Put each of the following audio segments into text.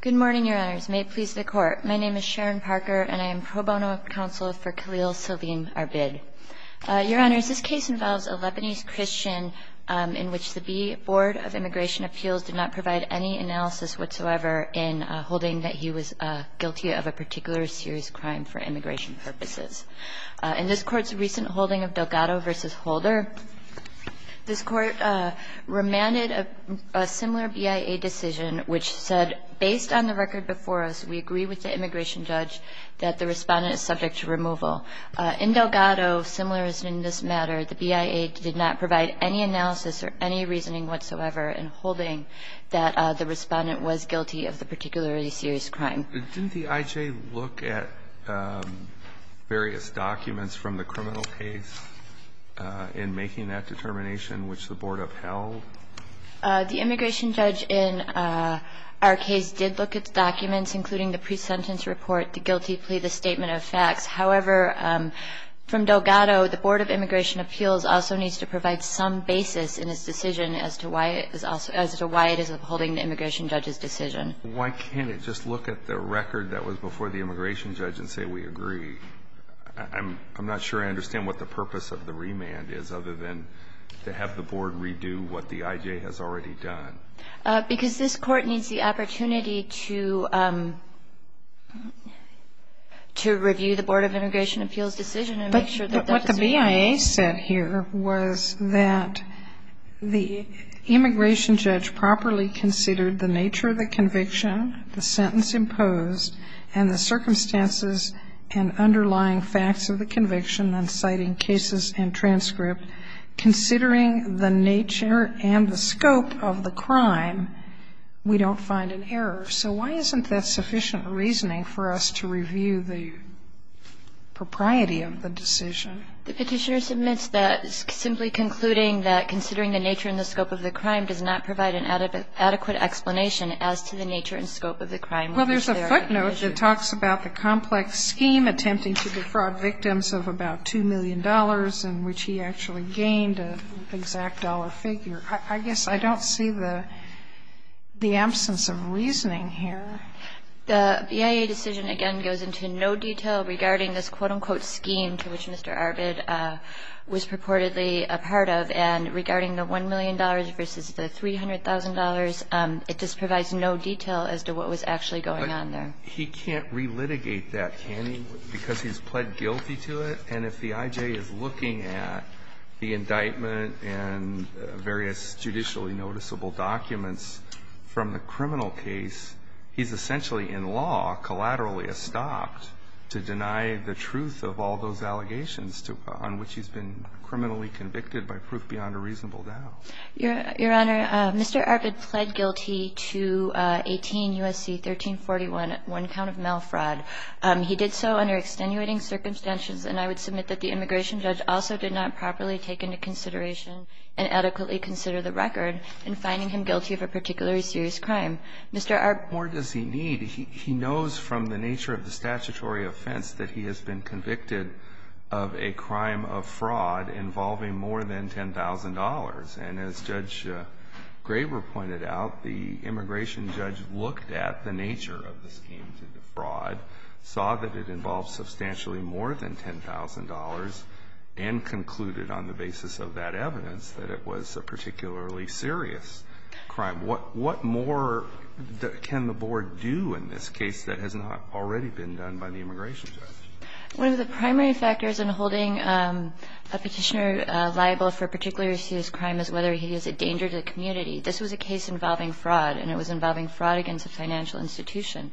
Good morning, Your Honors. May it please the Court. My name is Sharon Parker, and I am pro bono counsel for Khalil-Salim Arbid. Your Honors, this case involves a Lebanese Christian in which the B Board of Immigration Appeals did not provide any analysis whatsoever in holding that he was guilty of a particular serious crime for immigration purposes. In this Court's recent holding of Delgado v. Holder, this Court remanded a similar BIA decision which said, based on the record before us, we agree with the immigration judge that the respondent is subject to removal. In Delgado, similar as in this matter, the BIA did not provide any analysis or any reasoning whatsoever in holding that the respondent was guilty of the particularly serious crime. Didn't the IJ look at various documents from the criminal case in making that determination which the Board upheld? The immigration judge in our case did look at documents, including the pre-sentence report, the guilty plea, the statement of facts. However, from Delgado, the Board of Immigration Appeals also needs to provide some basis in its decision as to why it is upholding the immigration judge's decision. Why can't it just look at the record that was before the immigration judge and say, we agree? I'm not sure I understand what the purpose of the remand is, other than to have the Board redo what the IJ has already done. Because this Court needs the opportunity to review the Board of Immigration Appeals' decision and make sure that the decision is right. The audience's question is to the extent of the conviction, the sentence imposed, and the circumstances and underlying facts of the conviction, and citing cases and transcript, considering the nature and the scope of the crime, we don't find an error. So why isn't that sufficient reasoning for us to review the propriety of the decision? The Petitioner submits that simply concluding that considering the nature and the scope of the crime does not provide an adequate explanation as to the nature and scope of the crime. Well, there's a footnote that talks about the complex scheme attempting to defraud victims of about $2 million in which he actually gained an exact dollar figure. I guess I don't see the absence of reasoning here. The BIA decision, again, goes into no detail regarding this quote-unquote scheme to which Mr. Arbid was purportedly a part of. And regarding the $1 million versus the $300,000, it just provides no detail as to what was actually going on there. But he can't relitigate that, can he, because he's pled guilty to it? And if the I.J. is looking at the indictment and various judicially noticeable documents from the criminal case, he's essentially in law, collaterally estopped to deny the truth of all those allegations on which he's been criminally convicted by proof beyond a reasonable doubt. Your Honor, Mr. Arbid pled guilty to 18 U.S.C. 1341, one count of mail fraud. He did so under extenuating circumstances. And I would submit that the immigration judge also did not properly take into consideration and adequately consider the record in finding him guilty of a particularly serious crime. Mr. Arbid. Breyer, what more does he need? He knows from the nature of the statutory offense that he has been convicted of a crime of fraud involving more than $10,000. And as Judge Graber pointed out, the immigration judge looked at the nature of the scheme to defraud, saw that it involved substantially more than $10,000, and concluded on the basis of that evidence that it was a particularly serious crime. What more can the Board do in this case that has not already been done by the immigration judge? One of the primary factors in holding a Petitioner liable for a particularly serious crime is whether he is a danger to the community. This was a case involving fraud, and it was involving fraud against a financial institution.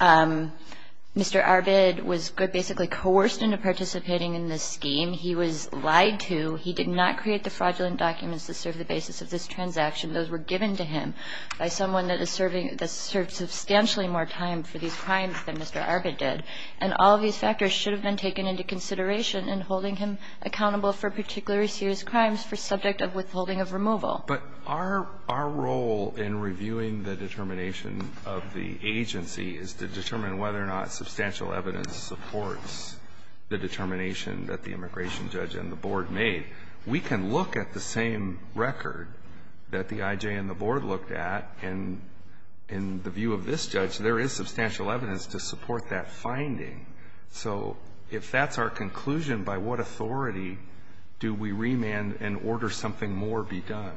Mr. Arbid was basically coerced into participating in this scheme. He was lied to. He did not create the fraudulent documents that serve the basis of this transaction. Those were given to him by someone that is serving, that served substantially more time for these crimes than Mr. Arbid did. And all of these factors should have been taken into consideration in holding him accountable for particularly serious crimes for subject of withholding of removal. But our role in reviewing the determination of the agency is to determine whether or not substantial evidence supports the determination that the immigration judge and the Board made. We can look at the same record that the I.J. and the Board looked at, and in the view of this judge, there is substantial evidence to support that finding. So if that's our conclusion, by what authority do we remand and order something more be done?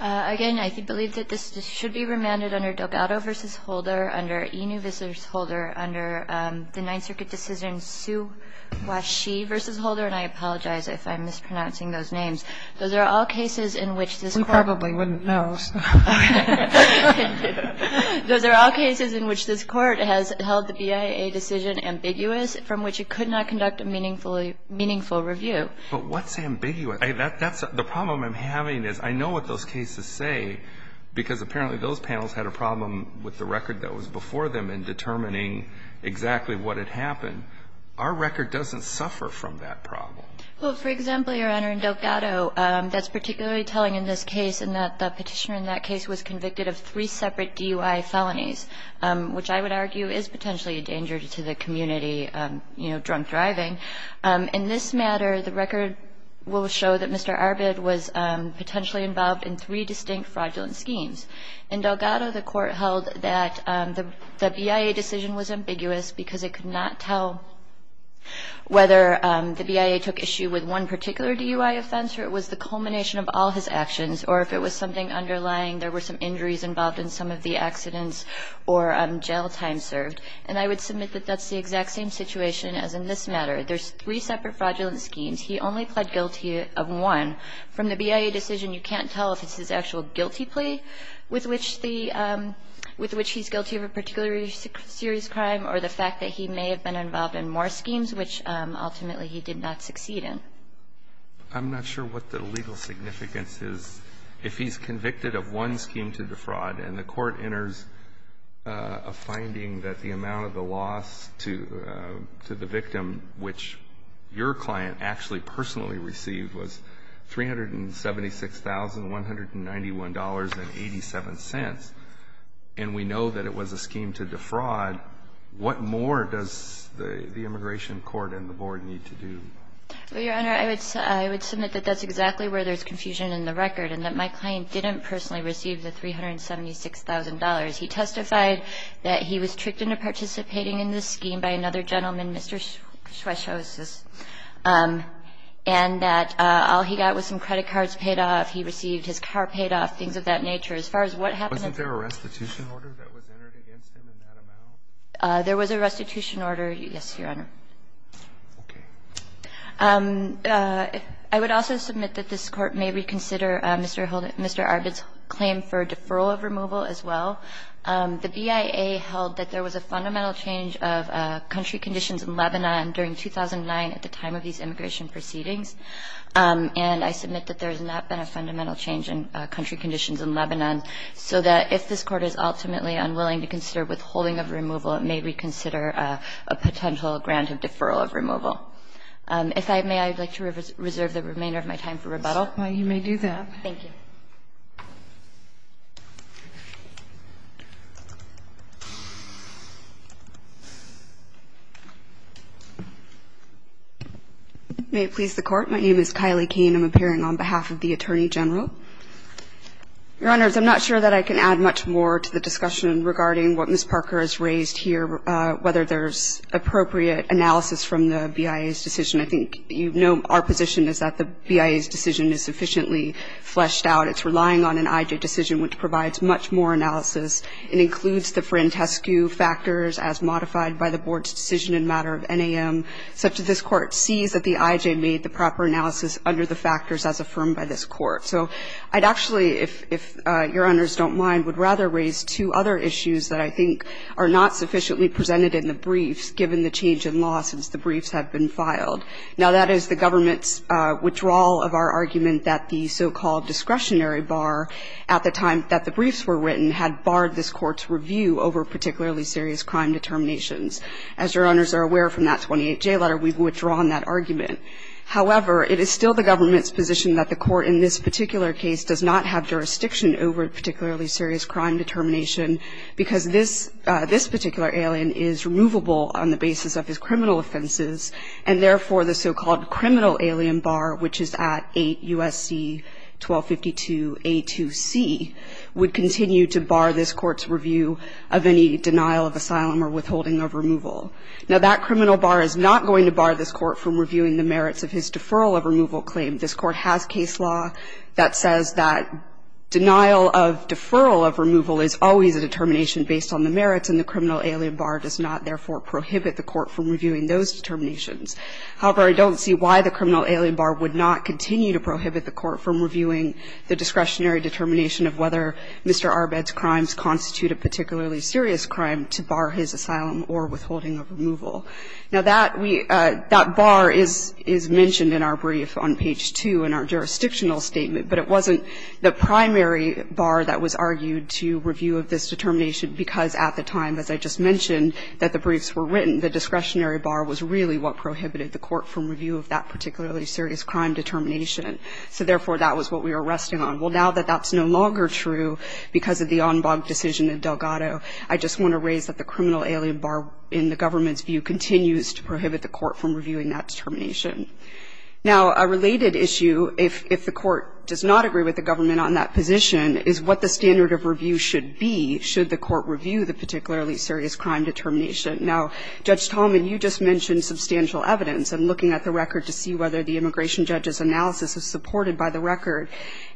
Again, I believe that this should be remanded under Delgado v. Holder, under Inouye v. Holder, under the Ninth Circuit decision Siu-Wa-Shee v. Holder, and I apologize if I'm mispronouncing those names. Those are all cases in which this Court We probably wouldn't know. Those are all cases in which this Court has held the BIA decision ambiguous, from which it could not conduct a meaningful review. But what's ambiguous? That's the problem I'm having is I know what those cases say, because apparently those panels had a problem with the record that was before them in determining exactly what had happened. Our record doesn't suffer from that problem. Well, for example, Your Honor, in Delgado, that's particularly telling in this case in that the petitioner in that case was convicted of three separate DUI felonies, which I would argue is potentially a danger to the community, you know, drunk driving. In this matter, the record will show that Mr. Arbid was potentially involved in three distinct fraudulent schemes. In Delgado, the Court held that the BIA decision was ambiguous because it could not tell whether the BIA took issue with one particular DUI offense or it was the culmination of all his actions, or if it was something underlying, there were some injuries involved in some of the accidents or jail time served. And I would submit that that's the exact same situation as in this matter. There's three separate fraudulent schemes. He only pled guilty of one. From the BIA decision, you can't tell if it's his actual guilty plea with which he's guilty of a particular serious crime or the fact that he may have been involved in more schemes, which ultimately he did not succeed in. I'm not sure what the legal significance is. If he's convicted of one scheme to defraud and the Court enters a finding that the amount of the loss to the victim, which your client actually personally received was $376,191.87, and we know that it was a scheme to defraud, what more does the immigration court and the Board need to do? Well, Your Honor, I would submit that that's exactly where there's confusion in the record and that my client didn't personally receive the $376,000. He testified that he was tricked into participating in this scheme by another person. All he got was some credit cards paid off. He received his car paid off, things of that nature. As far as what happened in this case. Wasn't there a restitution order that was entered against him in that amount? There was a restitution order, yes, Your Honor. Okay. I would also submit that this Court may reconsider Mr. Arbit's claim for deferral of removal as well. The BIA held that there was a fundamental change of country conditions in Lebanon during 2009 at the time of these immigration proceedings. And I submit that there has not been a fundamental change in country conditions in Lebanon, so that if this Court is ultimately unwilling to consider withholding of removal, it may reconsider a potential grant of deferral of removal. If I may, I would like to reserve the remainder of my time for rebuttal. Well, you may do that. Thank you. May it please the Court. My name is Kylie Kane. I'm appearing on behalf of the Attorney General. Your Honors, I'm not sure that I can add much more to the discussion regarding what Ms. Parker has raised here, whether there's appropriate analysis from the BIA's decision. I think you know our position is that the BIA's decision is sufficiently fleshed out. It's relying on an IJ decision which provides much more analysis and includes the Frantescu factors as modified by the Board's decision in matter of NAM, such that this Court sees that the IJ made the proper analysis under the factors as affirmed by this Court. So I'd actually, if Your Honors don't mind, would rather raise two other issues that I think are not sufficiently presented in the briefs given the change in law since the briefs have been filed. Now, that is the government's withdrawal of our argument that the so-called discretionary bar at the time that the briefs were written had barred this Court's review over particularly serious crime determinations. As Your Honors are aware from that 28J letter, we've withdrawn that argument. However, it is still the government's position that the Court in this particular case does not have jurisdiction over particularly serious crime determination because this particular alien is removable on the basis of his criminal offenses and, therefore, the so-called criminal alien bar, which is at 8 U.S.C. 1252a2c, would continue to bar this Court's review of any denial of asylum or withholding of removal. Now, that criminal bar is not going to bar this Court from reviewing the merits of his deferral of removal claim. This Court has case law that says that denial of deferral of removal is always a determination based on the merits, and the criminal alien bar does not, therefore, prohibit the Court from reviewing those determinations. However, I don't see why the criminal alien bar would not continue to prohibit the Court from reviewing the discretionary determination of whether Mr. Arbed's crimes constitute a particularly serious crime to bar his asylum or withholding of removal. Now, that we – that bar is mentioned in our brief on page 2 in our jurisdictional statement, but it wasn't the primary bar that was argued to review of this determination because, at the time, as I just mentioned, that the briefs were written, the discretionary bar was really what prohibited the Court from review of that particularly serious crime determination. So, therefore, that was what we were resting on. Well, now that that's no longer true because of the Enbag decision in Delgado, I just want to raise that the criminal alien bar, in the government's view, continues to prohibit the Court from reviewing that determination. Now, a related issue, if the Court does not agree with the government on that position, is what the standard of review should be should the Court review the particularly serious crime determination. Now, Judge Tallman, you just mentioned substantial evidence. I'm looking at the record to see whether the immigration judge's analysis is supported by the record.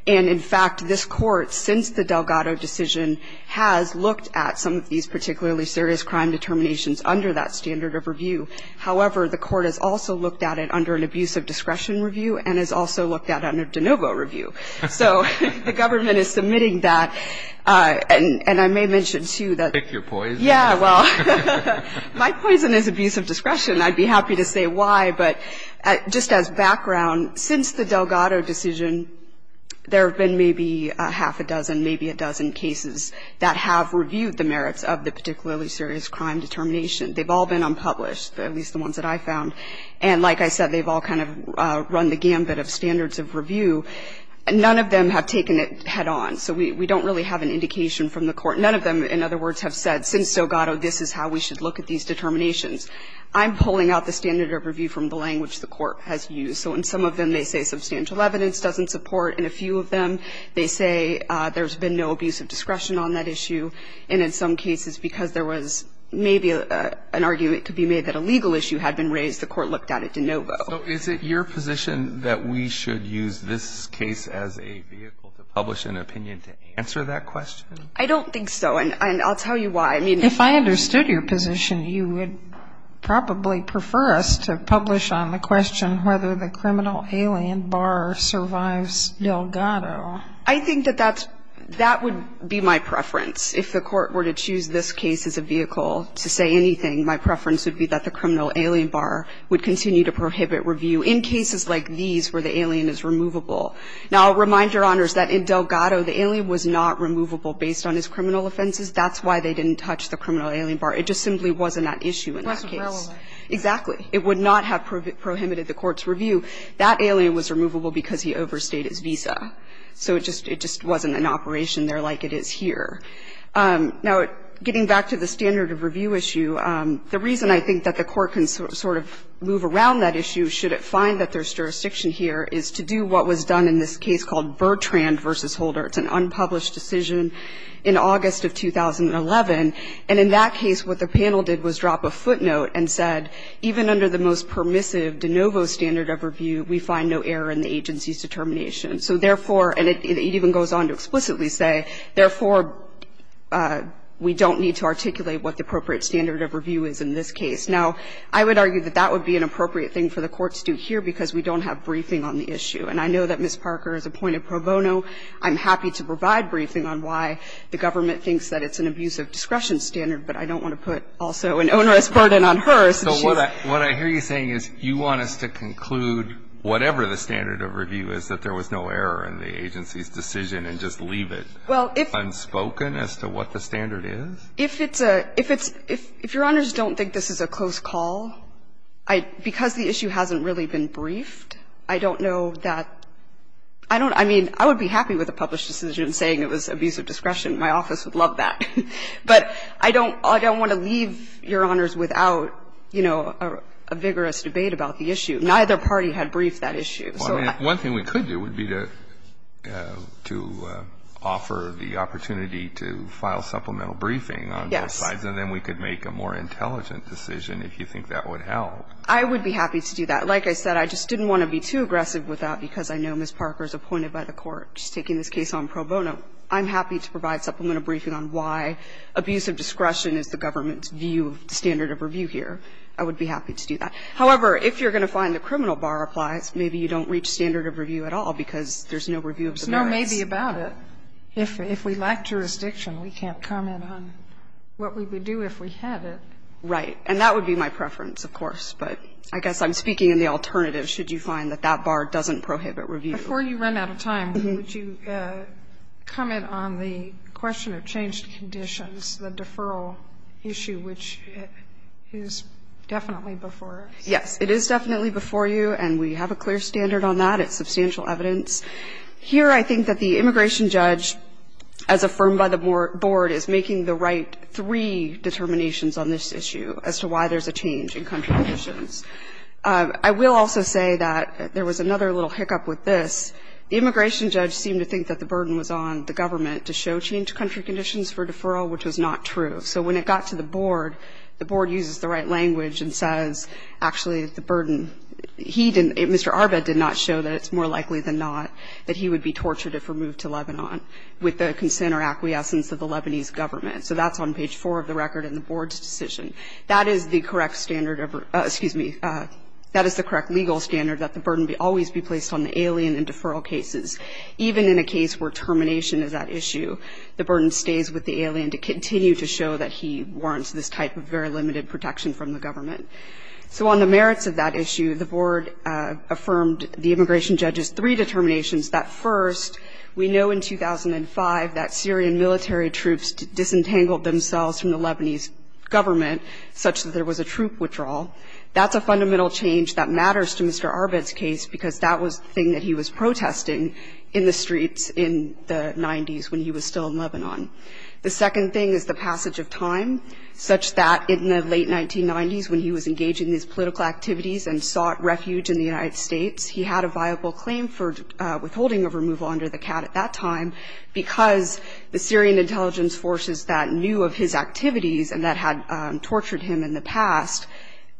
And, in fact, this Court, since the Delgado decision, has looked at some of these particularly serious crime determinations under that standard of review. However, the Court has also looked at it under an abuse of discretion review and has also looked at it under de novo review. So the government is submitting that. And I may mention, too, that my poison is abuse of discretion. I'd be happy to say why, but just as background, since the Delgado decision, there have been maybe half a dozen, maybe a dozen cases that have reviewed the merits of the particularly serious crime determination. They've all been unpublished, at least the ones that I found. And like I said, they've all kind of run the gambit of standards of review. None of them have taken it head on. So we don't really have an indication from the Court. None of them, in other words, have said, since Delgado, this is how we should look at these determinations. I'm pulling out the standard of review from the language the Court has used. So in some of them, they say substantial evidence doesn't support. In a few of them, they say there's been no abuse of discretion on that issue. And in some cases, because there was maybe an argument could be made that a legal issue had been raised, the Court looked at it de novo. So is it your position that we should use this case as a vehicle to publish an opinion to answer that question? I don't think so. And I'll tell you why. I mean, if I understood your position, you would probably prefer us to publish on the question whether the criminal alien Barr survives Delgado. I think that that's – that would be my preference. If the Court were to choose this case as a vehicle to say anything, my preference would be that the criminal alien Barr would continue to prohibit review in cases like these where the alien is removable. Now, I'll remind Your Honors that in Delgado, the alien was not removable based on his criminal offenses. That's why they didn't touch the criminal alien Barr. It just simply wasn't at issue in that case. It wasn't relevant. Exactly. It would not have prohibited the Court's review. That alien was removable because he overstayed his visa. So it just – it just wasn't an operation there like it is here. Now, getting back to the standard of review issue, the reason I think that the Court can sort of move around that issue, should it find that there's jurisdiction here, is to do what was done in this case called Bertrand v. Holder. It's an unpublished decision in August of 2011. And in that case, what the panel did was drop a footnote and said, even under the most permissive de novo standard of review, we find no error in the agency's determination. So therefore, and it even goes on to explicitly say, therefore, we don't need to articulate what the appropriate standard of review is in this case. Now, I would argue that that would be an appropriate thing for the Court to do here because we don't have briefing on the issue. And I know that Ms. Parker is a point of pro bono. I'm happy to provide briefing on why the government thinks that it's an abuse of discretion standard, but I don't want to put also an onerous burden on her. So what I hear you saying is you want us to conclude whatever the standard of review is, that there was no error in the agency's decision, and just leave it unspoken as to what the standard is? If it's a – if it's – if Your Honors don't think this is a close call, I – because the issue hasn't really been briefed, I don't know that – I don't – I mean, I would be happy with a published decision saying it was abuse of discretion. My office would love that. But I don't – I don't want to leave, Your Honors, without, you know, a vigorous debate about the issue. Neither party had briefed that issue, so I – Well, I mean, one thing we could do would be to offer the opportunity to file supplemental briefing on both sides. Yes. And then we could make a more intelligent decision if you think that would help. I would be happy to do that. Like I said, I just didn't want to be too aggressive with that because I know Ms. Parker is appointed by the Court. She's taking this case on pro bono. I'm happy to provide supplemental briefing on why abuse of discretion is the government's view of the standard of review here. I would be happy to do that. However, if you're going to find the criminal bar applies, maybe you don't reach standard of review at all because there's no review of the merits. There's no maybe about it. If we lack jurisdiction, we can't comment on what we would do if we had it. Right. And that would be my preference, of course. But I guess I'm speaking in the alternative, should you find that that bar doesn't prohibit review. Before you run out of time, would you comment on the question of changed conditions, the deferral issue, which is definitely before us? Yes. It is definitely before you, and we have a clear standard on that. It's substantial evidence. Here I think that the immigration judge, as affirmed by the board, is making the right three determinations on this issue as to why there's a change in country conditions. I will also say that there was another little hiccup with this. The immigration judge seemed to think that the burden was on the government to show changed country conditions for deferral, which was not true. So when it got to the board, the board uses the right language and says, actually, the burden, he didn't, Mr. Arba did not show that it's more likely than not that he would be tortured if removed to Lebanon with the consent or acquiescence of the Lebanese government. So that's on page 4 of the record in the board's decision. That is the correct legal standard that the burden would always be placed on the alien in deferral cases. Even in a case where termination is at issue, the burden stays with the alien to continue to show that he warrants this type of very limited protection from the government. So on the merits of that issue, the board affirmed the immigration judge's three determinations. That first, we know in 2005 that Syrian military troops disentangled themselves from the Lebanese government such that there was a troop withdrawal. That's a fundamental change that matters to Mr. Arba's case because that was the thing that he was protesting in the streets in the 90s when he was still in Lebanon. The second thing is the passage of time such that in the late 1990s when he was engaging in these political activities and sought refuge in the United States, he had a viable claim for withholding of removal under the CAAT at that time because the Syrian intelligence forces that knew of his activities and that had tortured him in the past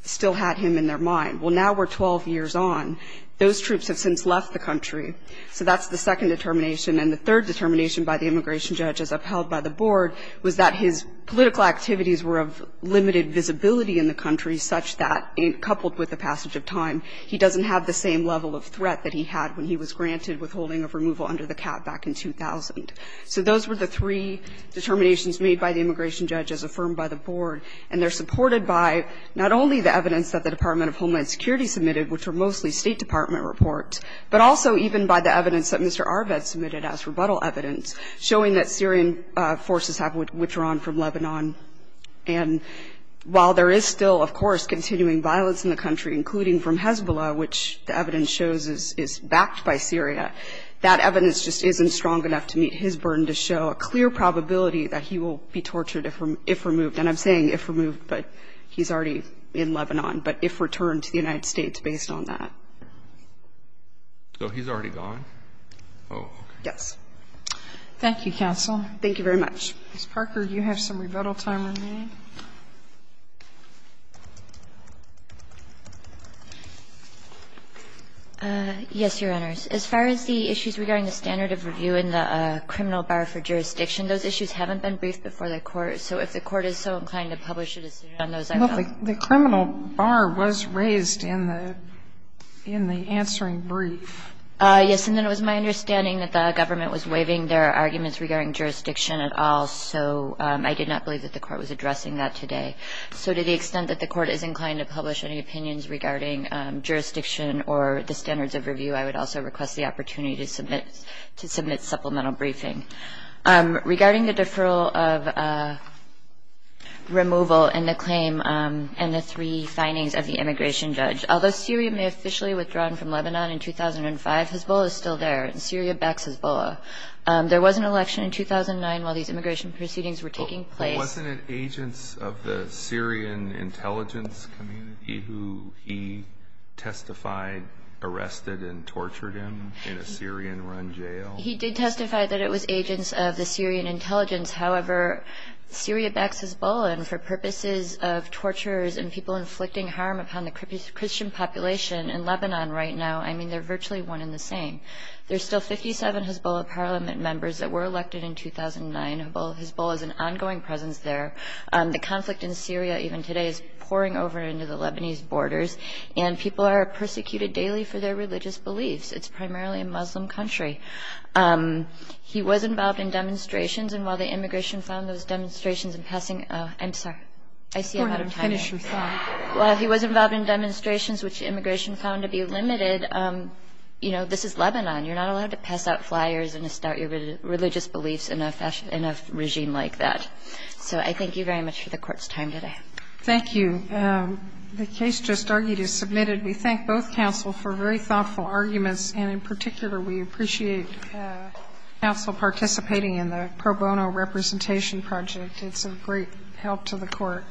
still had him in their mind. Well, now we're 12 years on. Those troops have since left the country. So that's the second determination. And the third determination by the immigration judge, as upheld by the board, was that his political activities were of limited visibility in the country such that coupled with the passage of time, he doesn't have the same level of threat that he had when he was granted withholding of removal under the CAAT back in 2000. So those were the three determinations made by the immigration judge as affirmed by the board, and they're supported by not only the evidence that the Department of Homeland Security submitted, which were mostly State Department reports, but also even by the evidence that Mr. Arba submitted as rebuttal evidence showing that Syrian forces have withdrawn from Lebanon. And while there is still, of course, continuing violence in the country, including from Hezbollah, which the evidence shows is backed by Syria, that evidence just isn't strong enough to meet his burden to show a clear probability that he will be tortured if removed. And I'm saying if removed, but he's already in Lebanon, but if returned to the United States based on that. So he's already gone? Yes. Thank you, counsel. Thank you very much. Ms. Parker, you have some rebuttal time remaining. Yes, Your Honors. As far as the issues regarding the standard of review in the criminal bar for jurisdiction, those issues haven't been briefed before the Court. So if the Court is so inclined to publish a decision on those, I will. The criminal bar was raised in the answering brief. Yes. And then it was my understanding that the government was waiving their arguments regarding jurisdiction at all, so I did not believe that the Court was addressing that today. So to the extent that the Court is inclined to publish any opinions regarding jurisdiction or the standards of review, I would also request the opportunity to submit supplemental briefing. Regarding the deferral of removal and the claim and the three findings of the immigration judge, although Syria may officially have withdrawn from Lebanon in 2005, Hezbollah is still there, and Syria backs Hezbollah. There was an election in 2009 while these immigration proceedings were taking place. But wasn't it agents of the Syrian intelligence community who he testified arrested and tortured him in a Syrian-run jail? He did testify that it was agents of the Syrian intelligence. However, Syria backs Hezbollah, and for purposes of torturers and people inflicting harm upon the Christian population in Lebanon right now, I mean, they're virtually one and the same. There's still 57 Hezbollah parliament members that were elected in 2009. Hezbollah is an ongoing presence there. The conflict in Syria even today is pouring over into the Lebanese borders, and people are persecuted daily for their religious beliefs. It's primarily a Muslim country. He was involved in demonstrations, and while the immigration found those demonstrations in passing — I'm sorry. I see you, Madam. While he was involved in demonstrations, which immigration found to be limited, you know, this is Lebanon. You're not allowed to pass out flyers and start your religious beliefs in a regime like that. So I thank you very much for the Court's time today. Thank you. The case just argued is submitted. We thank both counsel for very thoughtful arguments, and in particular, we appreciate counsel participating in the pro bono representation project. It's a great help to the Court.